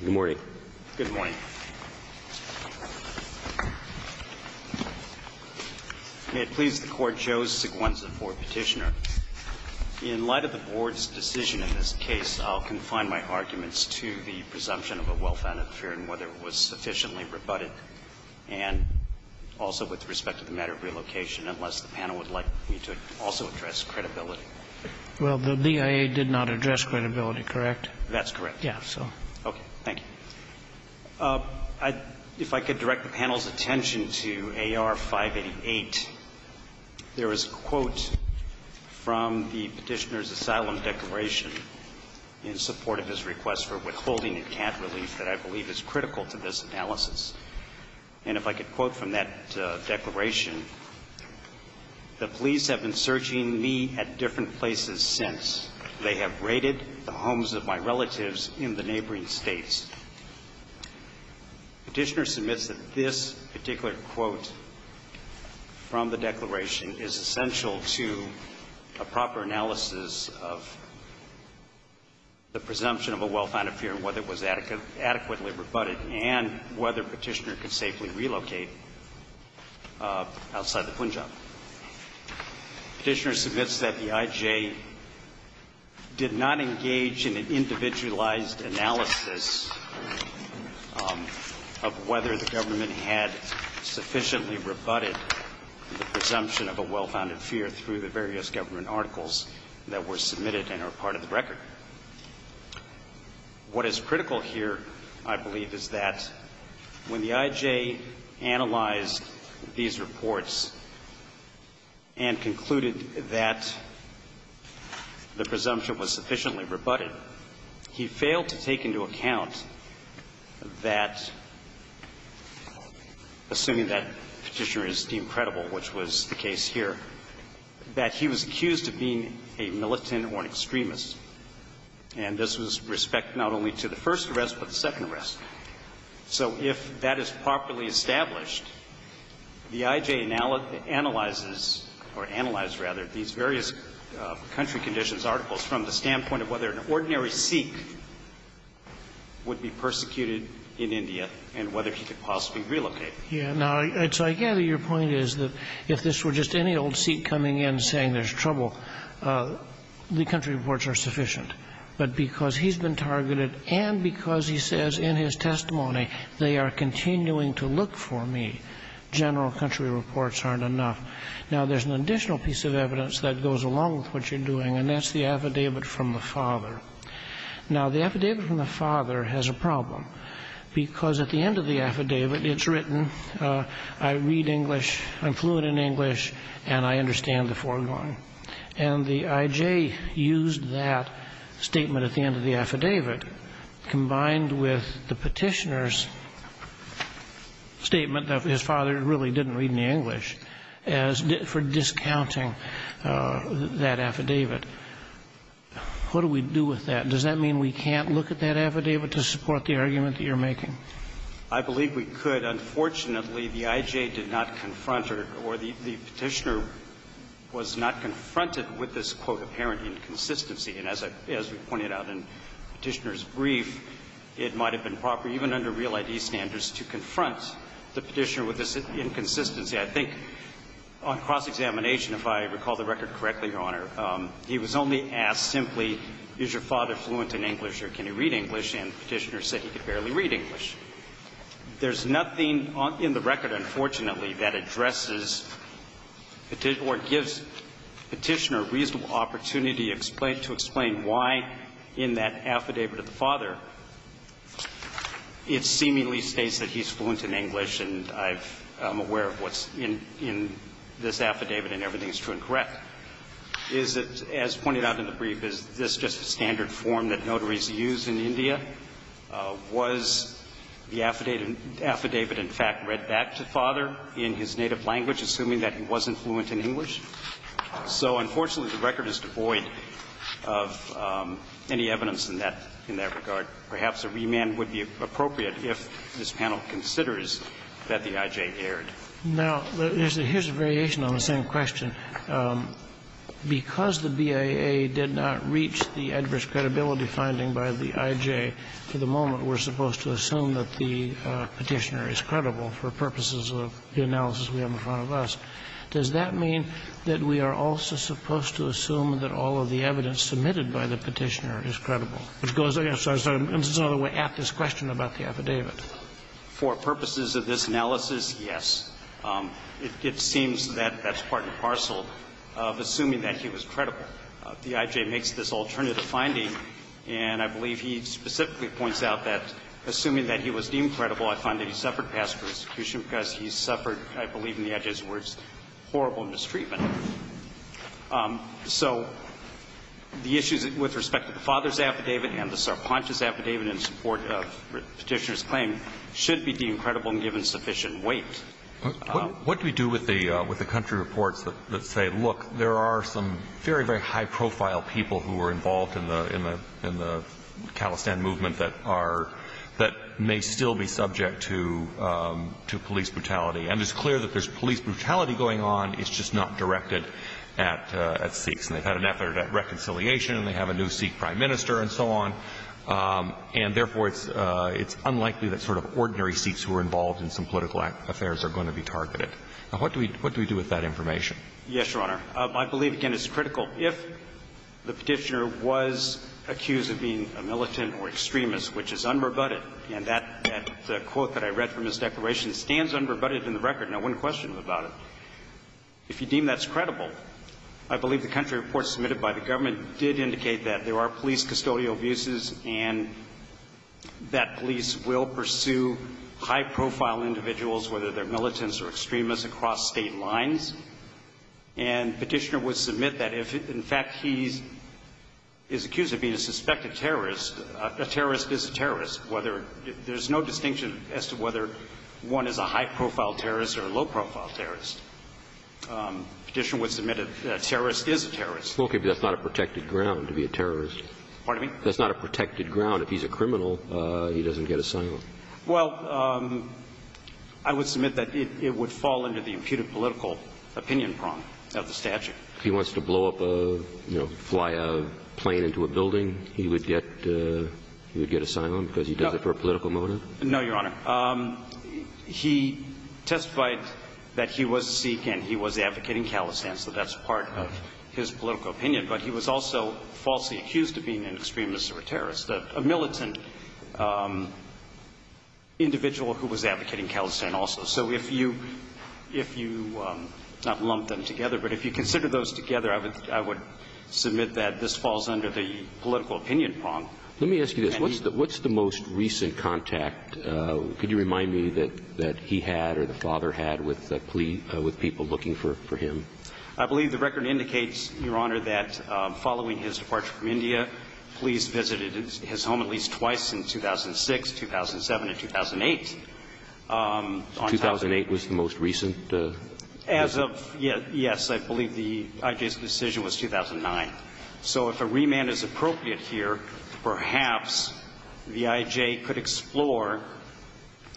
Good morning. Good morning. May it please the Court, Joe Seguenza for petitioner. In light of the Board's decision in this case, I'll confine my arguments to the presumption of a well-founded fear and whether it was sufficiently rebutted, and also with respect to the matter of relocation, unless the panel would like me to also address credibility. Well, the DIA did not address credibility, correct? That's correct. Yeah, so. Okay. Thank you. If I could direct the panel's attention to AR-588. There is a quote from the petitioner's asylum declaration in support of his request for withholding a cat relief that I believe is critical to this analysis. And if I could quote from that declaration, the police have been searching me at different places since. They have raided the homes of my relatives in the neighboring states. Petitioner submits that this particular quote from the declaration is essential to a proper analysis of the presumption of a well-founded fear and whether it was adequately rebutted and whether Petitioner could safely relocate outside the Punjab. Petitioner submits that the IJ did not engage in an individualized analysis of whether the government had sufficiently rebutted the presumption of a well-founded fear through the various government articles that were submitted and are part of the record. What is critical here, I believe, is that when the IJ analyzed these reports and concluded that the presumption was sufficiently rebutted, he failed to take into account that, assuming that Petitioner is deemed credible, which was the case here, that he was accused of being a militant or an extremist. And this was respect not only to the first arrest, but the second arrest. So if that is properly established, the IJ analyzes or analyzes, rather, these various country conditions articles from the standpoint of whether an ordinary Sikh would be persecuted in India and whether he could possibly relocate. Yeah. Now, I gather your point is that if this were just any old Sikh coming in saying there's trouble, the country reports are sufficient. But because he's been targeted and because he says in his testimony they are continuing to look for me, general country reports aren't enough. Now, there's an additional piece of evidence that goes along with what you're doing, and that's the affidavit from the father. Now, the affidavit from the father has a problem, because at the end of the affidavit, it's written, I read English, I'm fluent in English, and I understand the foregoing. And the IJ used that statement at the end of the affidavit combined with the Petitioner's statement that his father really didn't read any English for discounting that affidavit. What do we do with that? Does that mean we can't look at that affidavit to support the argument that you're making? I believe we could. Unfortunately, the IJ did not confront or the Petitioner was not confronted with this, quote, apparent inconsistency. And as we pointed out in Petitioner's brief, it might have been proper, even under real ID standards, to confront the Petitioner with this inconsistency. I think on cross-examination, if I recall the record correctly, Your Honor, he was only asked simply, is your father fluent in English or can he read English, and Petitioner said he could barely read English. There's nothing in the record, unfortunately, that addresses or gives Petitioner a reasonable opportunity to explain why in that affidavit of the father it seemingly states that he's fluent in English and I'm aware of what's in this affidavit and everything is true and correct. Is it, as pointed out in the brief, is this just a standard form that notaries use in India? Was the affidavit, in fact, read back to father in his native language, assuming that he wasn't fluent in English? So unfortunately, the record is devoid of any evidence in that regard. Perhaps a remand would be appropriate if this panel considers that the IJ erred. Now, here's a variation on the same question. Because the BIA did not reach the adverse credibility finding by the IJ, for the moment we're supposed to assume that the Petitioner is credible for purposes of the analysis we have in front of us, does that mean that we are also supposed to assume that all of the evidence submitted by the Petitioner is credible, which goes, I'm sorry, this is another way, at this question about the affidavit? For purposes of this analysis, yes. It seems that that's part and parcel of assuming that he was credible. The IJ makes this alternative finding, and I believe he specifically points out that, assuming that he was deemed credible, I find that he suffered pass for execution because he suffered, I believe in the IJ's words, horrible mistreatment. So the issues with respect to the father's affidavit and the Sarpanch's affidavit in support of Petitioner's claim should be deemed credible and given sufficient weight. What do we do with the country reports that say, look, there are some very, very high-profile people who are involved in the Khalistan movement that are, that may still be subject to police brutality? And it's clear that there's police brutality going on, it's just not directed at Sikhs. And they've had an effort at reconciliation, and they have a new Sikh prime minister, and so on. And therefore, it's unlikely that sort of ordinary Sikhs who are involved in some political affairs are going to be targeted. Now, what do we do with that information? Yes, Your Honor. I believe, again, it's critical. If the Petitioner was accused of being a militant or extremist, which is unrebutted, and that quote that I read from his declaration stands unrebutted in the record, no one questioned him about it. If you deem that's credible, I believe the country reports submitted by the government did indicate that there are police custodial abuses and that police will pursue high-profile individuals, whether they're militants or extremists, across State lines. And Petitioner would submit that if, in fact, he is accused of being a suspected terrorist, a terrorist is a terrorist, whether, there's no distinction as to whether one is a high-profile terrorist or a low-profile terrorist. Petitioner would submit a terrorist is a terrorist. Okay, but that's not a protected ground to be a terrorist. Pardon me? That's not a protected ground. If he's a criminal, he doesn't get asylum. Well, I would submit that it would fall under the imputed political opinion prong of the statute. If he wants to blow up a, you know, fly a plane into a building, he would get asylum because he does it for a political motive? No, Your Honor. He testified that he was a Sikh and he was advocating calisthenics, so that's part of his political opinion. But he was also falsely accused of being an extremist or a terrorist, a militant individual who was advocating calisthenics also. So if you not lump them together, but if you consider those together, I would submit that this falls under the political opinion prong. Let me ask you this. What's the most recent contact? Could you remind me that he had or the father had with people looking for him? I believe the record indicates, Your Honor, that following his departure from India, police visited his home at least twice in 2006, 2007, and 2008. 2008 was the most recent? As of yet, yes. I believe the I.J.'s decision was 2009. So if a remand is appropriate here, perhaps the I.J. could explore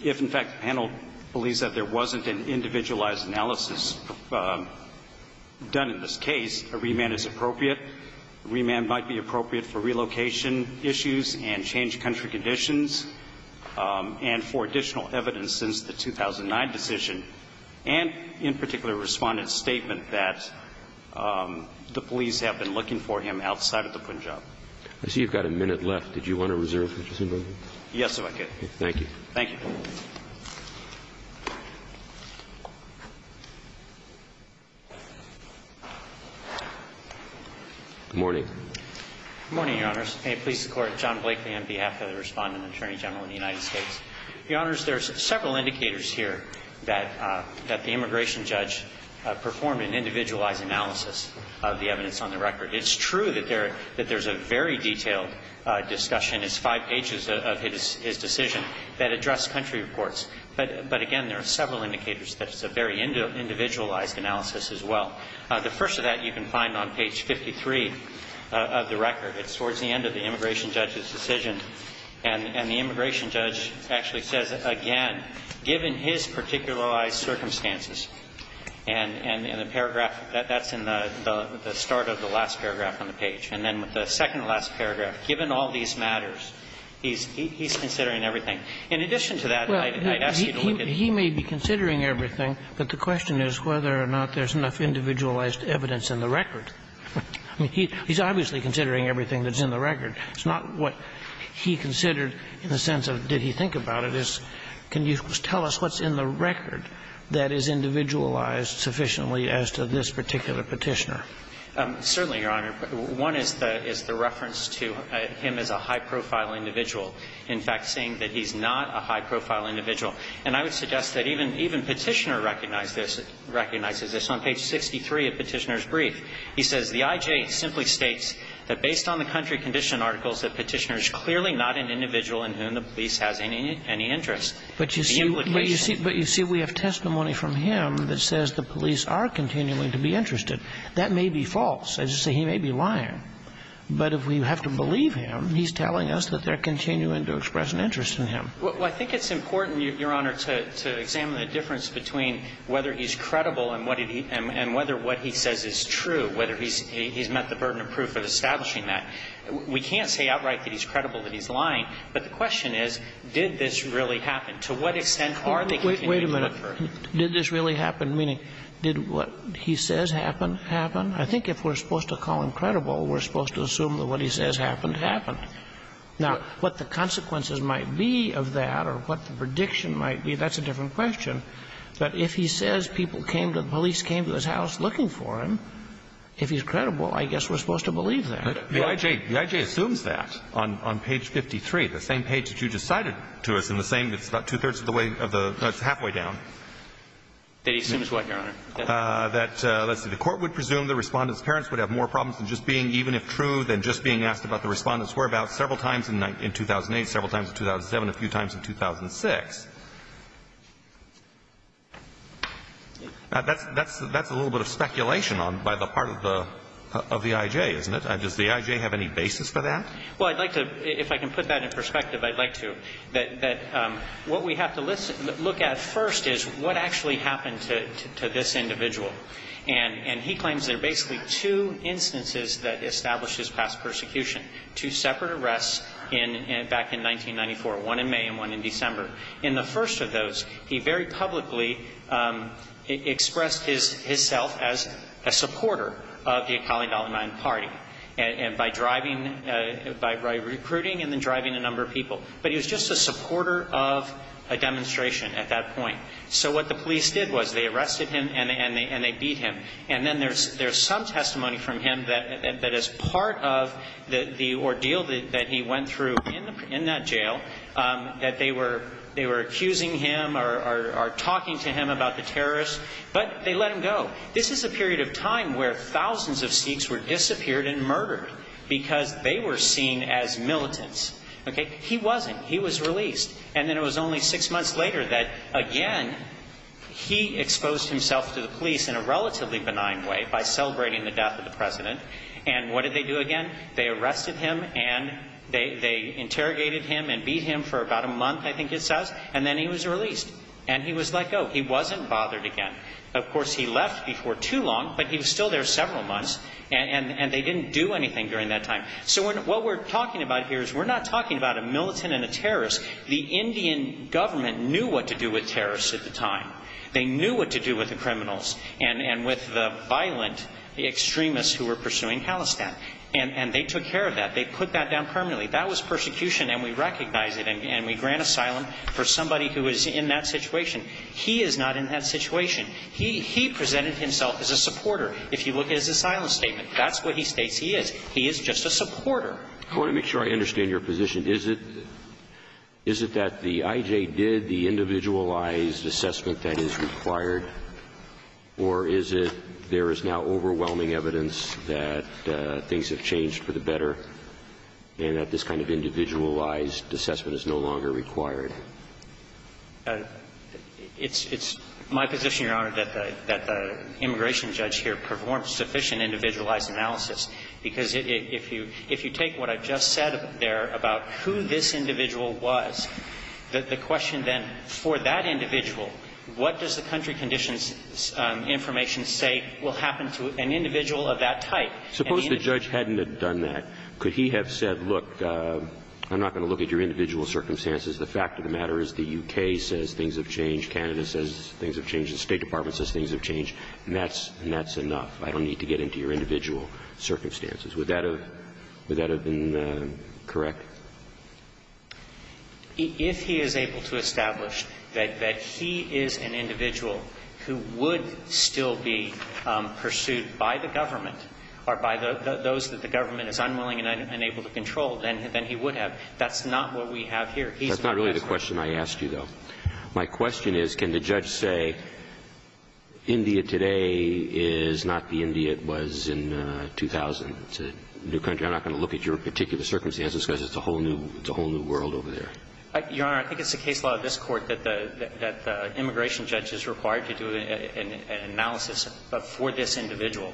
if, in fact, the panel believes that there wasn't an individualized analysis done in this case. A remand is appropriate. A remand might be appropriate for relocation issues and changed country conditions and for additional evidence since the 2009 decision and, in particular, a Respondent's statement that the police have been looking for him outside of the Punjab. I see you've got a minute left. Did you want to reserve it? Yes, if I could. Thank you. Thank you. Good morning. Good morning, Your Honors. May it please the Court. John Blakely on behalf of the Respondent, Attorney General of the United States. Your Honors, there's several indicators here that the immigration judge performed an individualized analysis of the evidence on the record. It's true that there's a very detailed discussion. It's five pages of his decision that address country reports. But, again, there are several indicators that it's a very individualized analysis as well. The first of that you can find on page 53 of the record. It's towards the end of the immigration judge's decision. And the immigration judge actually says, again, given his particularized circumstances and the paragraph, that's in the start of the last paragraph on the page. And then with the second to last paragraph, given all these matters, he's considering everything. In addition to that, I'd ask you to look at the other one. Well, he may be considering everything, but the question is whether or not there's enough individualized evidence in the record. I mean, he's obviously considering everything that's in the record. It's not what he considered in the sense of did he think about it. So I'm wondering if you could just tell us what's in the record that is individualized sufficiently as to this particular Petitioner. Certainly, Your Honor. One is the reference to him as a high-profile individual, in fact, saying that he's not a high-profile individual. And I would suggest that even Petitioner recognizes this. On page 63 of Petitioner's brief, he says, The IJ simply states that based on the country condition articles that Petitioner is clearly not an individual in whom the police has any interest. But you see we have testimony from him that says the police are continuing to be interested. That may be false. I just say he may be lying. But if we have to believe him, he's telling us that they're continuing to express an interest in him. Well, I think it's important, Your Honor, to examine the difference between whether he's credible and whether what he says is true, whether he's met the burden of proof of establishing that. We can't say outright that he's credible, that he's lying. But the question is, did this really happen? To what extent are they continuing to confer? Wait a minute. Did this really happen? Meaning, did what he says happen, happen? I think if we're supposed to call him credible, we're supposed to assume that what he says happened, happened. Now, what the consequences might be of that or what the prediction might be, that's a different question. But if he says people came to, the police came to his house looking for him, if he's credible, I guess we're supposed to believe that. The I.J. assumes that on page 53, the same page that you just cited to us, and the same, it's about two-thirds of the way of the, no, it's halfway down. That he assumes what, Your Honor? That, let's see, the Court would presume the Respondent's parents would have more problems than just being, even if true, than just being asked about the Respondent's whereabouts several times in 2008, several times in 2007, a few times in 2006. That's a little bit of speculation by the part of the I.J., isn't it? Does the I.J. have any basis for that? Well, I'd like to, if I can put that in perspective, I'd like to, that what we have to listen, look at first is what actually happened to this individual. And he claims there are basically two instances that establish his past persecution, two separate arrests back in 1994, one in May and one in December. In the first of those, he very publicly expressed his self as a supporter of the Seekers, and by driving, by recruiting and then driving a number of people. But he was just a supporter of a demonstration at that point. So what the police did was they arrested him and they beat him. And then there's some testimony from him that is part of the ordeal that he went through in that jail, that they were accusing him or talking to him about the terrorists, but they let him go. This is a period of time where thousands of Sikhs were disappeared and murdered because they were seen as militants. Okay? He wasn't. He was released. And then it was only six months later that, again, he exposed himself to the police in a relatively benign way by celebrating the death of the President. And what did they do again? They arrested him and they interrogated him and beat him for about a month, I think it says, and then he was released. And he was let go. He wasn't bothered again. Of course, he left before too long, but he was still there several months, and they didn't do anything during that time. So what we're talking about here is we're not talking about a militant and a terrorist. The Indian government knew what to do with terrorists at the time. They knew what to do with the criminals and with the violent extremists who were pursuing Khalistan. And they took care of that. They put that down permanently. That was persecution, and we recognize it, and we grant asylum for somebody who is in that situation. He is not in that situation. He presented himself as a supporter. If you look at his asylum statement, that's what he states he is. He is just a supporter. I want to make sure I understand your position. Is it that the IJ did the individualized assessment that is required, or is it there is now overwhelming evidence that things have changed for the better and that this kind of individualized assessment is no longer required? It's my position, Your Honor, that the immigration judge here performs sufficient individualized analysis, because if you take what I've just said there about who this individual was, the question then for that individual, what does the country conditions information say will happen to an individual of that type? Suppose the judge hadn't have done that. Could he have said, look, I'm not going to look at your individual circumstances. The fact of the matter is the U.K. says things have changed. Canada says things have changed. The State Department says things have changed. And that's enough. I don't need to get into your individual circumstances. Would that have been correct? If he is able to establish that he is an individual who would still be pursued by the government or by those that the government is unwilling and unable to control, then he would have. That's not what we have here. That's not really the question I asked you, though. My question is, can the judge say India today is not the India it was in 2000. It's a new country. I'm not going to look at your particular circumstances, because it's a whole new world over there. Your Honor, I think it's the case law of this Court that the immigration judge is required to do an analysis for this individual,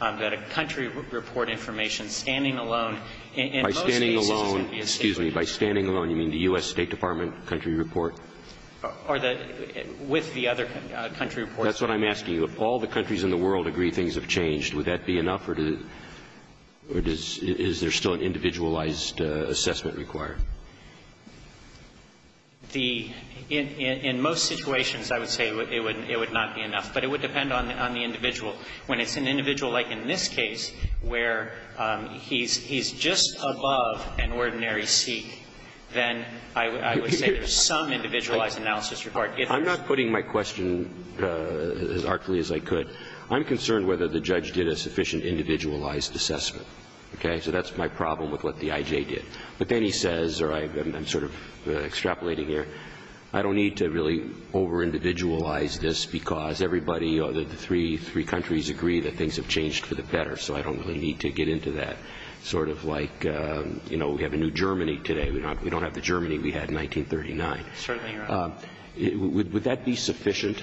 that a country report information standing alone. By standing alone, excuse me, by standing alone you mean the U.S. State Department country report? With the other country reports. That's what I'm asking you. If all the countries in the world agree things have changed, would that be enough or is there still an individualized assessment required? In most situations, I would say it would not be enough. But it would depend on the individual. When it's an individual like in this case where he's just above an ordinary seat, then I would say there's some individualized analysis required. I'm not putting my question as artfully as I could. I'm concerned whether the judge did a sufficient individualized assessment. Okay? So that's my problem with what the I.J. did. But then he says, or I'm sort of extrapolating here, I don't need to really overindividualize this because everybody or the three countries agree that things have changed for the better, so I don't really need to get into that. Sort of like, you know, we have a new Germany today. We don't have the Germany we had in 1939. Certainly, Your Honor. Would that be sufficient?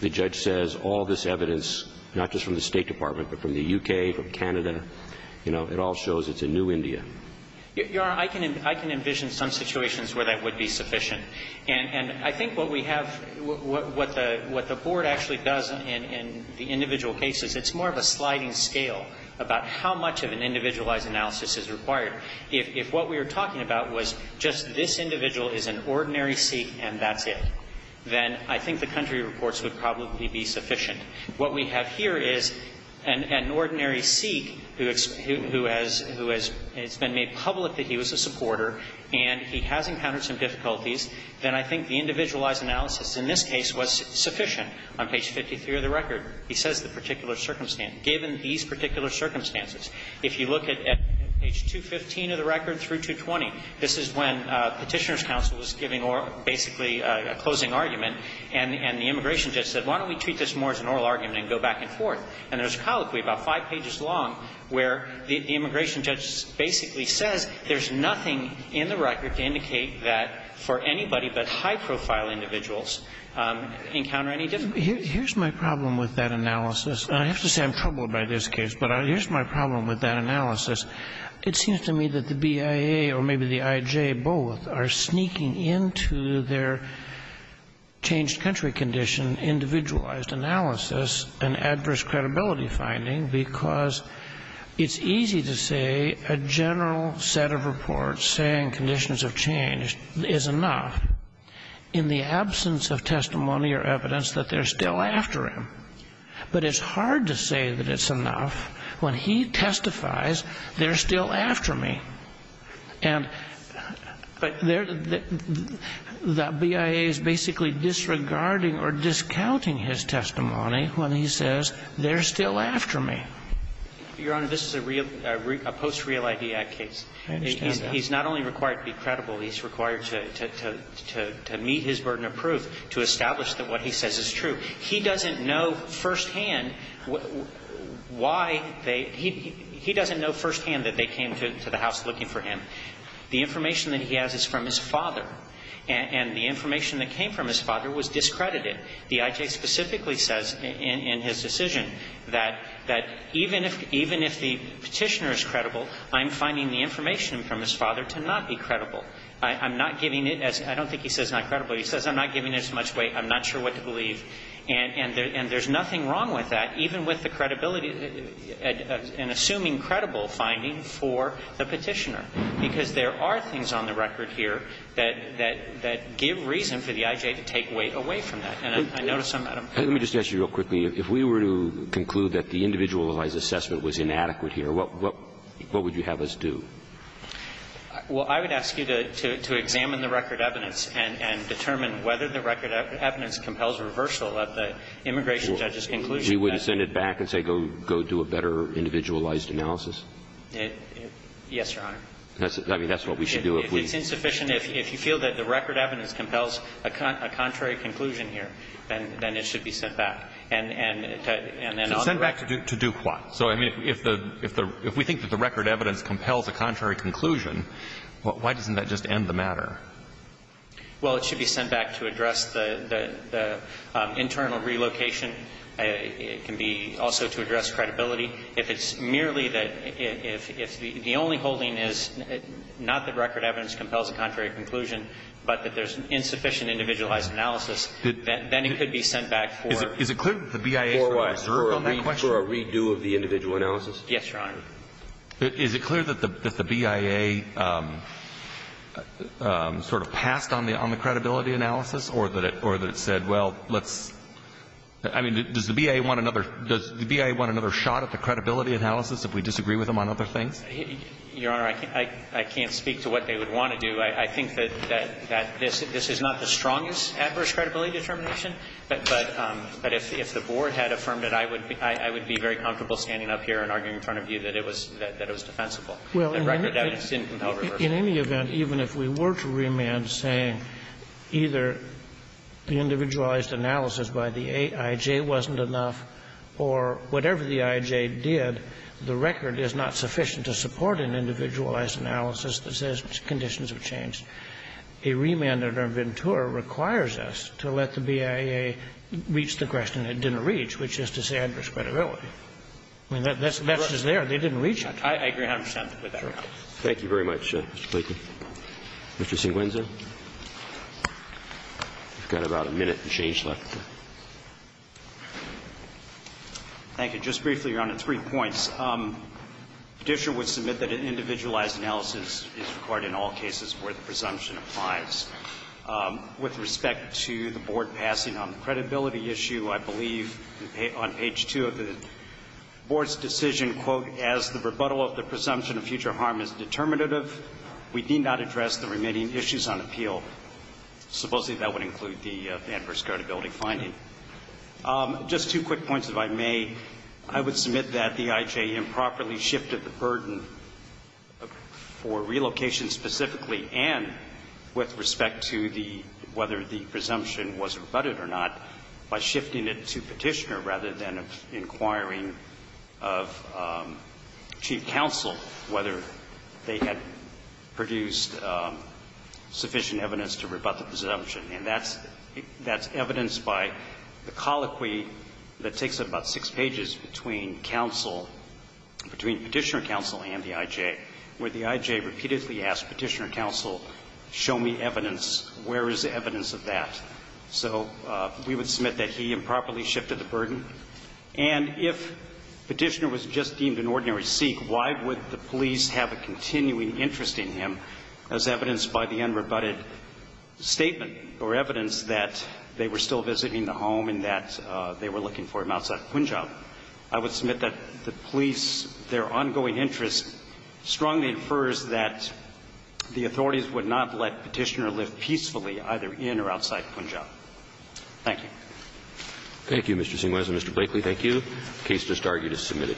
The judge says all this evidence, not just from the State Department, but from the U.K., from Canada, you know, it all shows it's a new India. Your Honor, I can envision some situations where that would be sufficient. And I think what we have, what the Board actually does in the individual cases, it's more of a sliding scale about how much of an individualized analysis is required. If what we were talking about was just this individual is an ordinary Sikh and that's it, then I think the country reports would probably be sufficient. What we have here is an ordinary Sikh who has been made public that he was a supporter and he has encountered some difficulties, then I think the individualized analysis in this case was sufficient. On page 53 of the record, he says the particular circumstance. Given these particular circumstances, if you look at page 215 of the record through 220, this is when Petitioner's counsel is giving basically a closing argument and the immigration judge said, why don't we treat this more as an oral argument and go back and forth. And there's a colloquy about five pages long where the immigration judge basically says there's nothing in the record to indicate that for anybody but high-profile individuals encounter any difficulty. Here's my problem with that analysis. I have to say I'm troubled by this case, but here's my problem with that analysis. It seems to me that the BIA or maybe the IJ both are sneaking into their changed country condition individualized analysis an adverse credibility finding because it's easy to say a general set of reports saying conditions have changed is enough in the absence of testimony or evidence that they're still after him. But it's hard to say that it's enough when he testifies they're still after me. And the BIA is basically disregarding or discounting his testimony when he says they're still after me. Your Honor, this is a real, a post-real IBI case. I understand that. He's not only required to be credible, he's required to meet his burden of proof to establish that what he says is true. He doesn't know firsthand why they he doesn't know firsthand that they came to the house looking for him. The information that he has is from his father. And the information that came from his father was discredited. The IJ specifically says in his decision that even if the Petitioner is credible, I'm finding the information from his father to not be credible. I'm not giving it as he says not credible. He says I'm not giving it as much weight. I'm not sure what to believe. And there's nothing wrong with that, even with the credibility and assuming credible finding for the Petitioner, because there are things on the record here that give reason for the IJ to take weight away from that. And I notice some of them. Let me just ask you real quickly. If we were to conclude that the individualized assessment was inadequate here, what would you have us do? Well, I would ask you to examine the record evidence and determine whether the record evidence compels reversal of the immigration judge's conclusion. We wouldn't send it back and say go do a better individualized analysis? Yes, Your Honor. I mean, that's what we should do. It's insufficient if you feel that the record evidence compels a contrary conclusion here, then it should be sent back. And then on the record. Sent back to do what? So, I mean, if we think that the record evidence compels a contrary conclusion, why doesn't that just end the matter? Well, it should be sent back to address the internal relocation. It can be also to address credibility. If it's merely that the only holding is not that record evidence compels a contrary conclusion, but that there's insufficient individualized analysis, then it could be sent back for. Is it clear that the BIA sort of observed on that question? For a redo of the individual analysis? Yes, Your Honor. Is it clear that the BIA sort of passed on the credibility analysis or that it said, well, let's – I mean, does the BIA want another – does the BIA want another shot at the credibility analysis if we disagree with them on other things? Your Honor, I can't speak to what they would want to do. I think that this is not the strongest adverse credibility determination, but if the Board had affirmed it, I would be very comfortable standing up here and arguing in front of you that it was defensible. The record evidence didn't compel reversal. In any event, even if we were to remand saying either the individualized analysis by the AIJ wasn't enough or whatever the AIJ did, the record is not sufficient to support an individualized analysis that says conditions have changed. A remand at Ervantura requires us to let the BIA reach the question it didn't reach, which is to say adverse credibility. I mean, that's just there. They didn't reach it. I agree 100 percent with that, Your Honor. Thank you very much, Mr. Blakey. Mr. Senguinza, you've got about a minute to change left. Thank you. Just briefly, Your Honor, three points. The petitioner would submit that an individualized analysis is required in all cases where the presumption applies. With respect to the Board passing on the credibility issue, I believe on page 2 of the Board's decision, quote, as the rebuttal of the presumption of future harm is determinative, we need not address the remaining issues on appeal. Supposedly, that would include the adverse credibility finding. Just two quick points, if I may. I would submit that the IJM properly shifted the burden for relocation specifically and with respect to the whether the presumption was rebutted or not by shifting it to petitioner rather than inquiring of chief counsel whether they had produced sufficient evidence to rebut the presumption. And that's evidence by the colloquy that takes up about six pages between counsel – between petitioner counsel and the IJ, where the IJ repeatedly asks petitioner counsel, show me evidence. Where is the evidence of that? So we would submit that he improperly shifted the burden. And if petitioner was just deemed an ordinary Sikh, why would the police have a continuing interest in him as evidenced by the unrebutted statement or evidence that they were still visiting the home and that they were looking for him outside Punjab? I would submit that the police, their ongoing interest strongly infers that the authorities would not let petitioner live peacefully either in or outside Punjab. Thank you. Roberts. Thank you, Mr. Singwiser. Mr. Blakely, thank you. The case just argued is submitted.